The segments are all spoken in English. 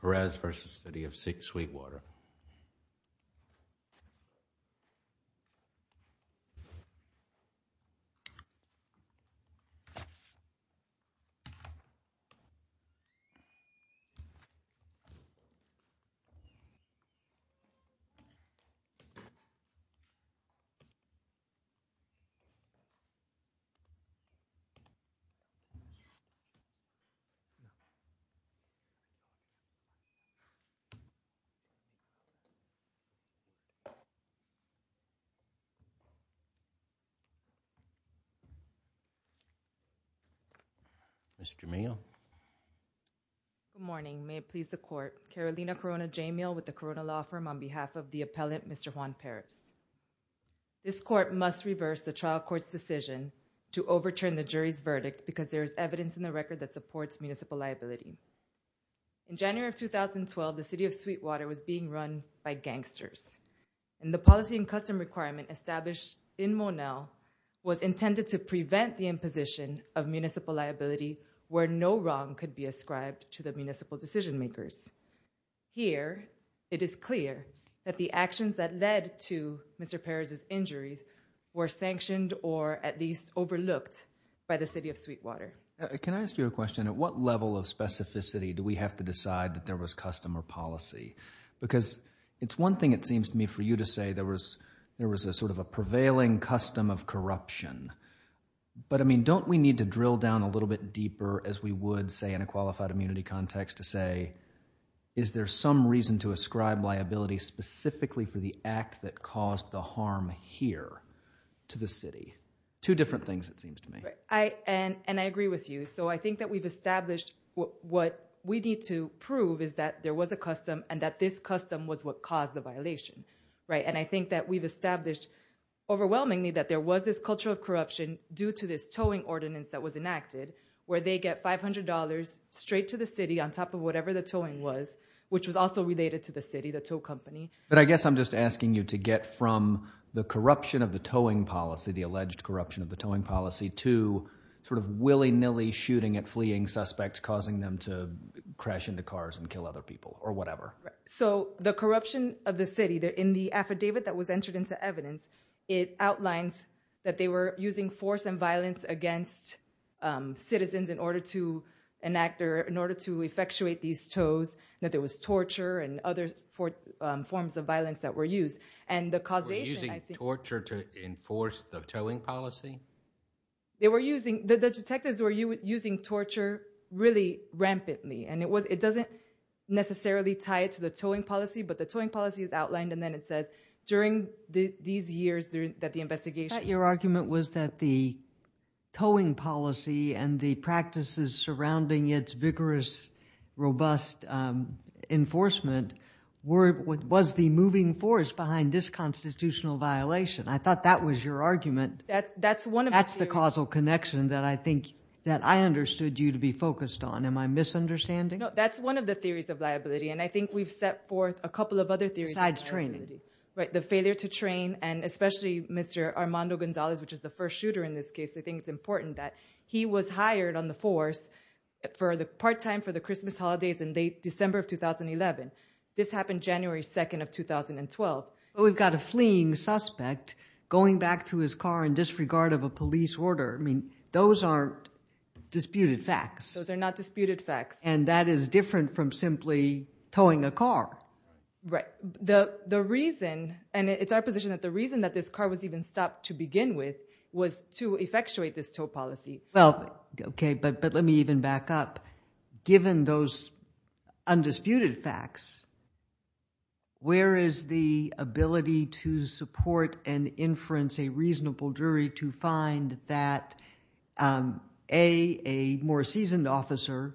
Perez versus the city of Sweetwater. Good morning, may it please the court, Carolina Corona J meal with the Corona law firm on behalf of the appellant, Mr Juan Perez. This court must reverse the trial court's decision to overturn the jury's verdict because there's evidence in the record that supports municipal liability. In January of 2012, the city of Sweetwater was being run by gangsters. And the policy and custom requirement established in Monell was intended to prevent the imposition of municipal liability, where no wrong could be ascribed to the municipal decision makers. Here, it is clear that the actions that led to Mr Perez's injuries were sanctioned or at least overlooked by the city of Sweetwater. Can I ask you a question? At what level of specificity do we have to decide that there was customer policy? Because it's one thing, it seems to me for you to say there was there was a sort of a prevailing custom of corruption. But I mean, don't we need to drill down a little bit deeper as we would say in a qualified immunity context to say, is there some reason to ascribe liability specifically for the act that caused the harm here to the city? Two different things, it seems to me. And I agree with you. So I think that we've established what we need to prove is that there was a custom and that this custom was what caused the violation. Right. And I think that we've established overwhelmingly that there was this culture of corruption due to this towing ordinance that was enacted where they get five hundred dollars straight to the city on top of whatever the towing was, which was also related to the city, the tow company. But I guess I'm just asking you to get from the corruption of the towing policy, the alleged corruption of the towing policy to sort of willy nilly shooting at fleeing suspects, causing them to crash into cars and kill other people or whatever. So the corruption of the city in the affidavit that was entered into evidence, it outlines that they were using force and violence against citizens in order to enact or in order to effectuate these tows, that there was torture and other forms of violence that were used. And the causation of torture to enforce the towing policy. They were using the detectives were using torture really rampantly, and it was it doesn't necessarily tie it to the towing policy, but the towing policy is outlined. And then it says during these years that the investigation, your argument was that the towing policy and the practices surrounding its vigorous, robust enforcement were what was the moving force behind this constitutional violation. I thought that was your argument. That's that's one. That's the causal connection that I think that I understood you to be focused on. Am I misunderstanding? No, that's one of the theories of liability. And I think we've set forth a couple of other theories. Besides training. Right. The failure to train and especially Mr. Armando Gonzalez, which is the first shooter in this case, I think it's important that he was hired on the force for the part time for the Christmas holidays in December of 2011. This happened January 2nd of 2012. We've got a fleeing suspect going back to his car in disregard of a police order. I mean, those aren't disputed facts. Those are not disputed facts. And that is different from simply towing a car. Right. The reason and it's our position that the reason that this car was even stopped to begin with was to effectuate this tow policy. Well, OK, but but let me even back up, given those undisputed facts. Where is the ability to support and inference a reasonable jury to find that a more seasoned officer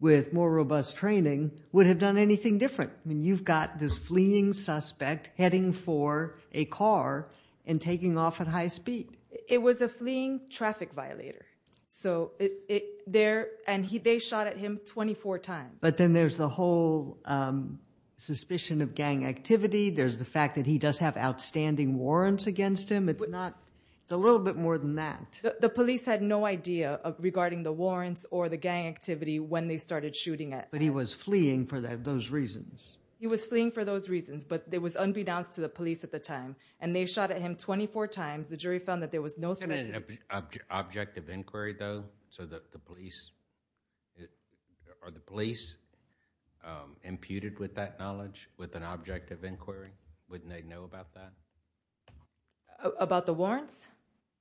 with more robust training would have done anything different? I mean, you've got this fleeing suspect heading for a car and taking off at high speed. It was a fleeing traffic violator. So it there and they shot at him 24 times. But then there's the whole suspicion of gang activity. There's the fact that he does have outstanding warrants against him. It's not a little bit more than that. The police had no idea regarding the warrants or the gang activity when they started shooting it. But he was fleeing for those reasons. He was fleeing for those reasons. But there was unbeknownst to the police at the time. And they shot at him 24 times. The jury found that there was no threat to... Objective inquiry, though, so that the police... Are the police imputed with that knowledge with an objective inquiry? Wouldn't they know about that? About the warrants?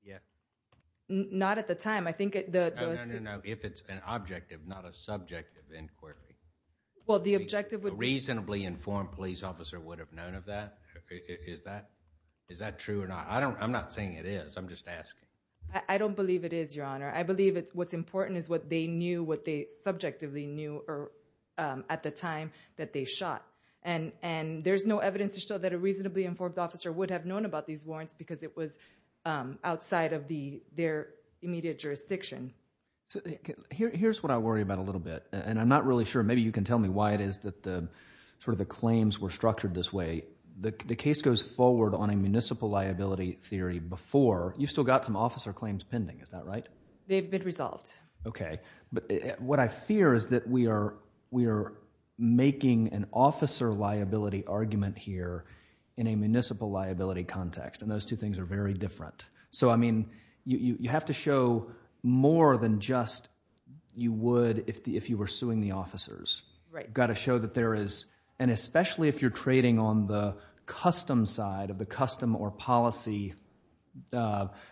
Yeah. Not at the time. I think... No, no, no, no. If it's an objective, not a subjective inquiry. Well, the objective would... A reasonably informed police officer would have known of that. Is that true or not? I'm not saying it is. I'm just asking. I don't believe it is, Your Honor. I believe what's important is what they knew, what they subjectively knew at the time that they shot. And there's no evidence to show that a reasonably informed officer would have known about these warrants because it was outside of their immediate jurisdiction. Here's what I worry about a little bit. And I'm not really sure. Maybe you can tell me why it is that the claims were structured this way. The case goes forward on a municipal liability theory before. You've still got some officer claims pending. Is that right? They've been resolved. Okay. But what I fear is that we are making an officer liability argument here in a municipal liability context, and those two things are very different. So, I mean, you have to show more than just you would if you were suing the officers. Right. You've got to show that there is, and especially if you're trading on the custom side of the custom or policy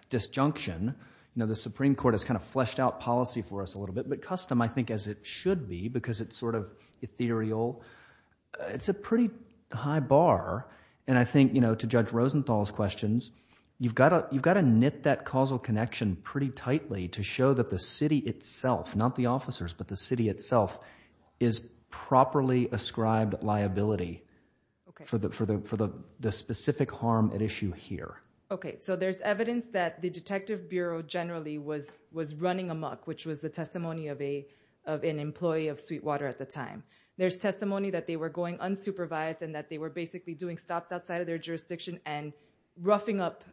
disjunction, the Supreme Court has kind of fleshed out policy for us a little bit, but custom I think as it should be because it's sort of ethereal. It's a pretty high bar, and I think, you know, to Judge Rosenthal's questions, you've got to knit that causal connection pretty tightly to show that the city itself, not the officers, but the city itself is properly ascribed liability for the specific harm at issue here. Okay. So there's evidence that the Detective Bureau generally was running amok, which was the testimony of an employee of Sweetwater at the time. There's testimony that they were going unsupervised and that they were basically doing stops outside of their jurisdiction and roughing up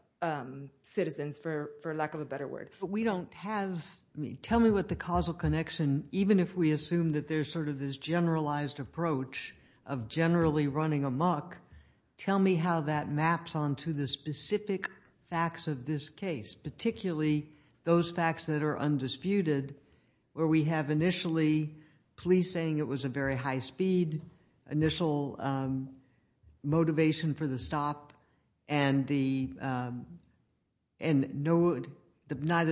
citizens for lack of a better word. Tell me what the causal connection, even if we assume that there's sort of this generalized approach of generally running amok, tell me how that maps onto the specific facts of this case, particularly those facts that are undisputed where we have initially police saying it was a very high speed, initial motivation for the stop, and neither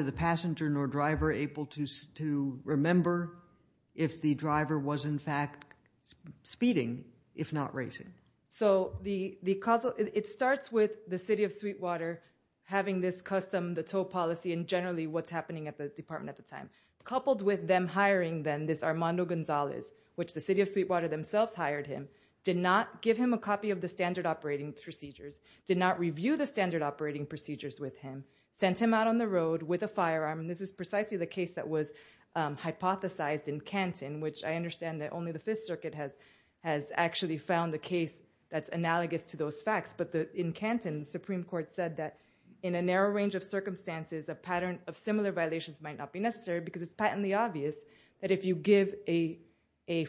the passenger nor driver able to remember if the driver was in fact speeding, if not racing. So it starts with the city of Sweetwater having this custom, the tow policy, and generally what's happening at the department at the time, coupled with them hiring then this Armando Gonzalez, which the city of Sweetwater themselves hired him, did not give him a copy of the standard operating procedures, did not review the standard operating procedures with him, sent him out on the road with a firearm, and this is precisely the case that was hypothesized in Canton, which I understand that only the Fifth Circuit has actually found a case that's analogous to those facts, but in Canton, the Supreme Court said that in a narrow range of circumstances, a pattern of similar violations might not be necessary because it's patently obvious that if you give a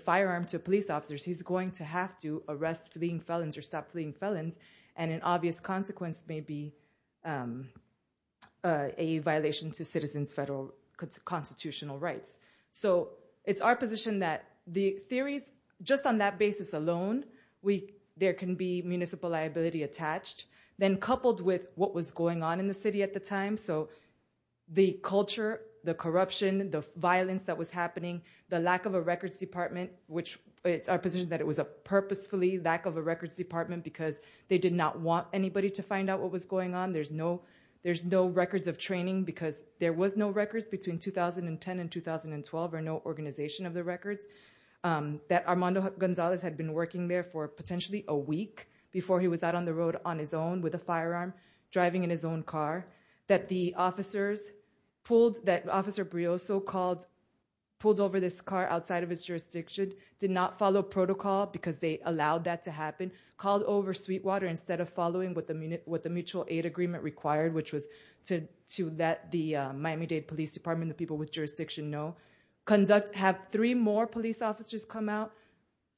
firearm to police officers, he's going to have to arrest fleeing felons or stop fleeing felons, and an obvious consequence may be a violation to citizens' federal constitutional rights. So it's our position that the theories, just on that basis alone, there can be municipal liability attached. Then coupled with what was going on in the city at the time, so the culture, the corruption, the violence that was happening, the lack of a records department, which it's our position that it was a purposefully lack of a records department because they did not want anybody to find out what was going on, there's no records of training because there was no records between 2010 and 2012, or no organization of the records, that Armando Gonzalez had been working there for potentially a week before he was out on the road on his own with a firearm, driving in his own car, that Officer Brioso pulled over this car outside of his jurisdiction, did not follow protocol because they allowed that to happen, called over Sweetwater instead of following what the mutual aid agreement required, which was to let the Miami-Dade Police Department and the people with jurisdiction know, have three more police officers come out,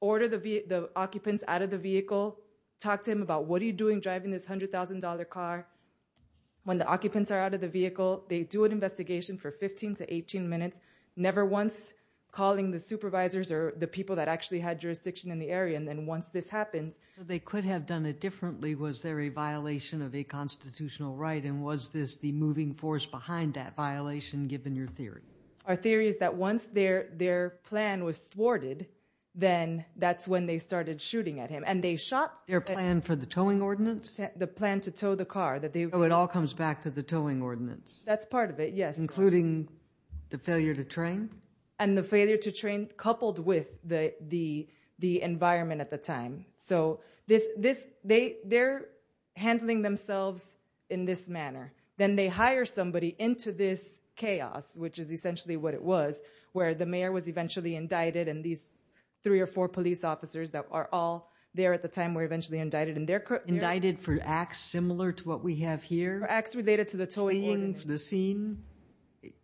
order the occupants out of the vehicle, talk to him about what are you doing driving this $100,000 car when the occupants are out of the vehicle, they do an investigation for 15 to 18 minutes, never once calling the supervisors or the people that actually had jurisdiction in the area, and then once this happens... So they could have done it differently, was there a violation of a constitutional right, and was this the moving force behind that violation, given your theory? Our theory is that once their plan was thwarted, then that's when they started shooting at him, and they shot... Their plan for the towing ordinance? The plan to tow the car. So it all comes back to the towing ordinance? That's part of it, yes. Including the failure to train? And the failure to train coupled with the environment at the time. So they're handling themselves in this manner. Then they hire somebody into this chaos, which is essentially what it was, where the mayor was eventually indicted, and these three or four police officers that are all there at the time were eventually indicted. Indicted for acts similar to what we have here? For acts related to the towing ordinance. Fleeing the scene?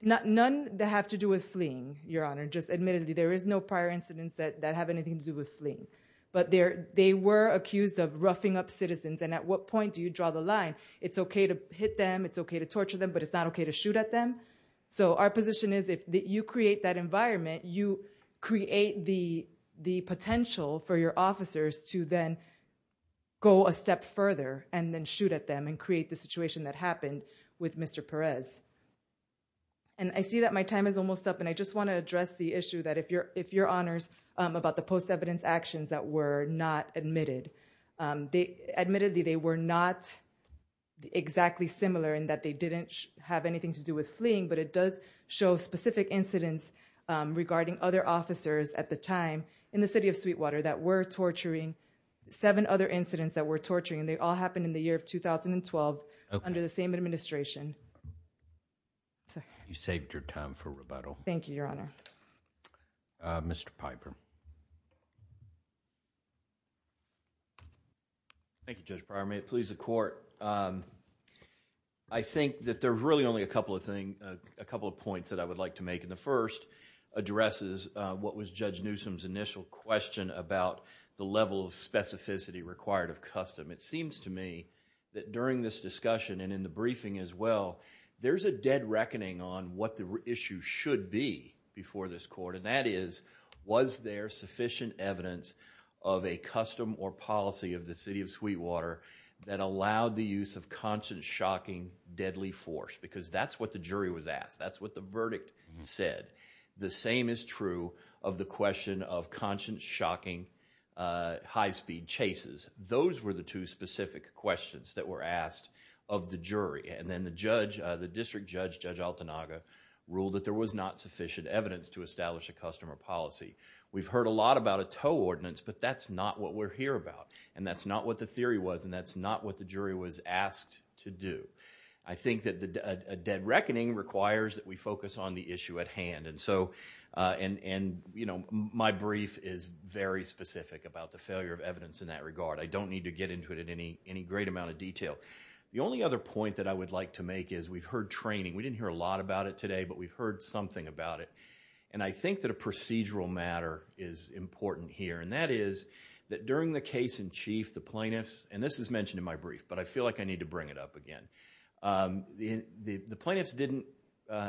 None that have to do with fleeing, Your Honor. Just admittedly, there is no prior incidents that have anything to do with fleeing. But they were accused of roughing up citizens, and at what point do you draw the line? It's okay to hit them, it's okay to torture them, but it's not okay to shoot at them. So our position is if you create that environment, you create the potential for your officers to then go a step further and then shoot at them and create the situation that happened with Mr. Perez. And I see that my time is almost up, and I just want to address the issue that if Your Honors, about the post-evidence actions that were not admitted. Admittedly, they were not exactly similar in that they didn't have anything to do with fleeing, but it does show specific incidents regarding other officers at the time in the city of Sweetwater that were torturing, seven other incidents that were torturing, and they all happened in the year of 2012 under the same administration. You saved your time for rebuttal. Thank you, Your Honor. Mr. Piper. Thank you, Judge Breyer. May it please the Court. I think that there are really only a couple of points that I would like to make, and the first addresses what was Judge Newsom's initial question about the level of specificity required of custom. It seems to me that during this discussion and in the briefing as well, there's a dead reckoning on what the issue should be before this Court, and that is was there sufficient evidence of a custom or policy of the city of Sweetwater that allowed the use of conscience-shocking deadly force, because that's what the jury was asked. That's what the verdict said. The same is true of the question of conscience-shocking high-speed chases. Those were the two specific questions that were asked of the jury, and then the district judge, Judge Altanaga, ruled that there was not sufficient evidence to establish a custom or policy. We've heard a lot about a tow ordinance, but that's not what we're here about, and that's not what the theory was, and that's not what the jury was asked to do. I think that a dead reckoning requires that we focus on the issue at hand, and my brief is very specific about the failure of evidence in that regard. I don't need to get into it in any great amount of detail. The only other point that I would like to make is we've heard training. We didn't hear a lot about it today, but we've heard something about it, and I think that a procedural matter is important here, and that is that during the case in chief, the plaintiffs, and this is mentioned in my brief, but I feel like I need to bring it up again. The plaintiffs didn't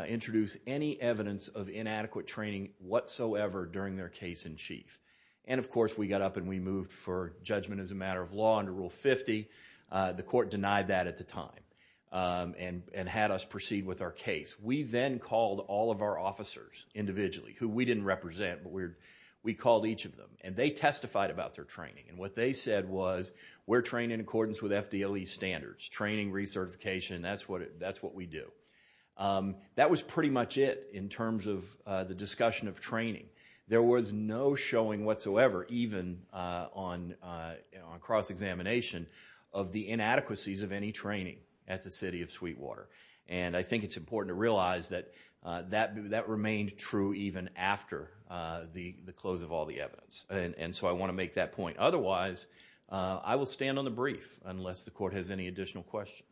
introduce any evidence of inadequate training whatsoever during their case in chief, and, of course, we got up and we moved for judgment as a matter of law under Rule 50. The court denied that at the time and had us proceed with our case. We then called all of our officers individually who we didn't represent, but we called each of them, and they testified about their training, and what they said was we're trained in accordance with FDLE standards. Training, recertification, that's what we do. That was pretty much it in terms of the discussion of training. There was no showing whatsoever, even on cross-examination, of the inadequacies of any training at the city of Sweetwater, and I think it's important to realize that that remained true even after the close of all the evidence, and so I want to make that point. Otherwise, I will stand on the brief unless the court has any additional questions.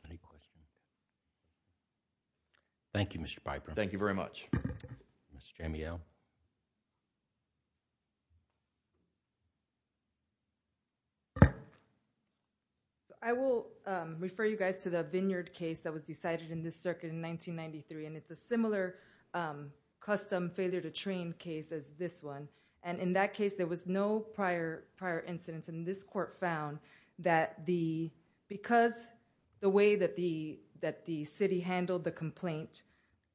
Thank you, Mr. Piper. Thank you very much. Ms. Jamiel. I will refer you guys to the Vineyard case that was decided in this circuit in 1993, and it's a similar custom failure-to-train case as this one, and in that case there was no prior incidents, and this court found that because the way that the city handled the complaint,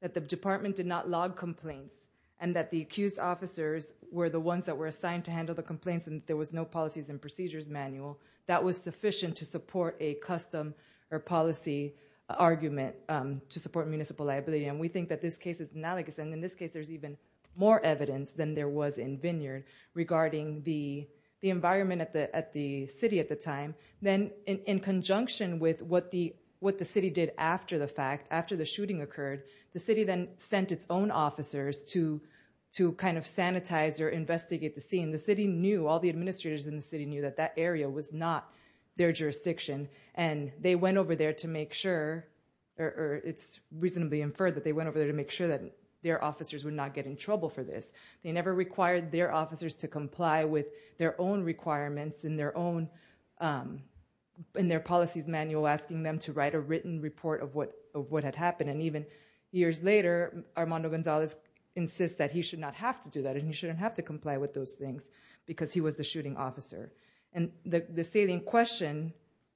that the department did not log complaints, and that the accused officers were the ones that were assigned to handle the complaints and there was no policies and procedures manual, that was sufficient to support a custom or policy argument to support municipal liability, and we think that this case is analogous, and in this case there's even more evidence than there was in Vineyard regarding the environment at the city at the time. Then in conjunction with what the city did after the fact, after the shooting occurred, the city then sent its own officers to kind of sanitize or investigate the scene. The city knew, all the administrators in the city knew that that area was not their jurisdiction, and they went over there to make sure, or it's reasonably inferred that they went over there to make sure that their officers would not get in trouble for this. They never required their officers to comply with their own requirements and their policies manual asking them to write a written report of what had happened, and even years later Armando Gonzalez insists that he should not have to do that and he shouldn't have to comply with those things because he was the shooting officer. And the salient question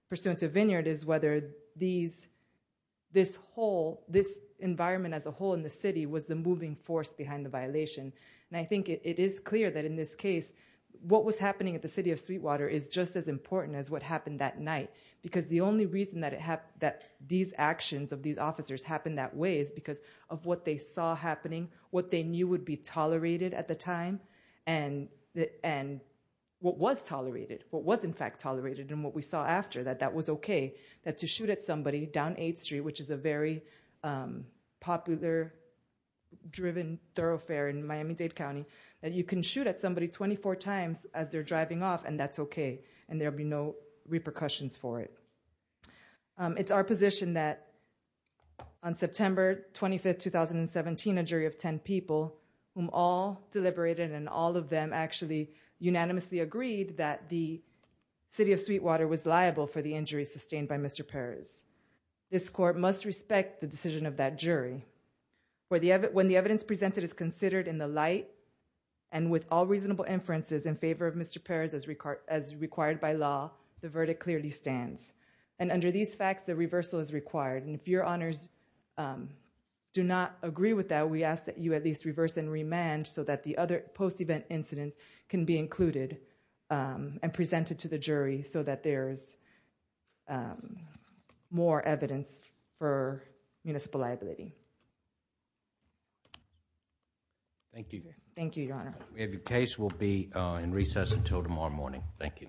pursuant to Vineyard is whether this environment as a whole in the city was the moving force behind the violation, and I think it is clear that in this case what was happening at the city of Sweetwater is just as important as what happened that night because the only reason that these actions of these officers happened that way is because of what they saw happening, what they knew would be tolerated at the time, and what was tolerated, what was in fact tolerated, and what we saw after that that was okay. That to shoot at somebody down 8th Street, which is a very popular, driven thoroughfare in Miami-Dade County, that you can shoot at somebody 24 times as they're driving off and that's okay and there'll be no repercussions for it. It's our position that on September 25, 2017, a jury of 10 people, whom all deliberated and all of them actually unanimously agreed that the city of Sweetwater was liable for the injuries sustained by Mr. Perez. This court must respect the decision of that jury. When the evidence presented is considered in the light and with all reasonable inferences in favor of Mr. Perez as required by law, the verdict clearly stands. And under these facts, the reversal is required, and if your honors do not agree with that, we ask that you at least reverse and remand so that the other post-event incidents can be included and presented to the jury so that there's more evidence for municipal liability. Thank you. Thank you, your honor. The case will be in recess until tomorrow morning. Thank you.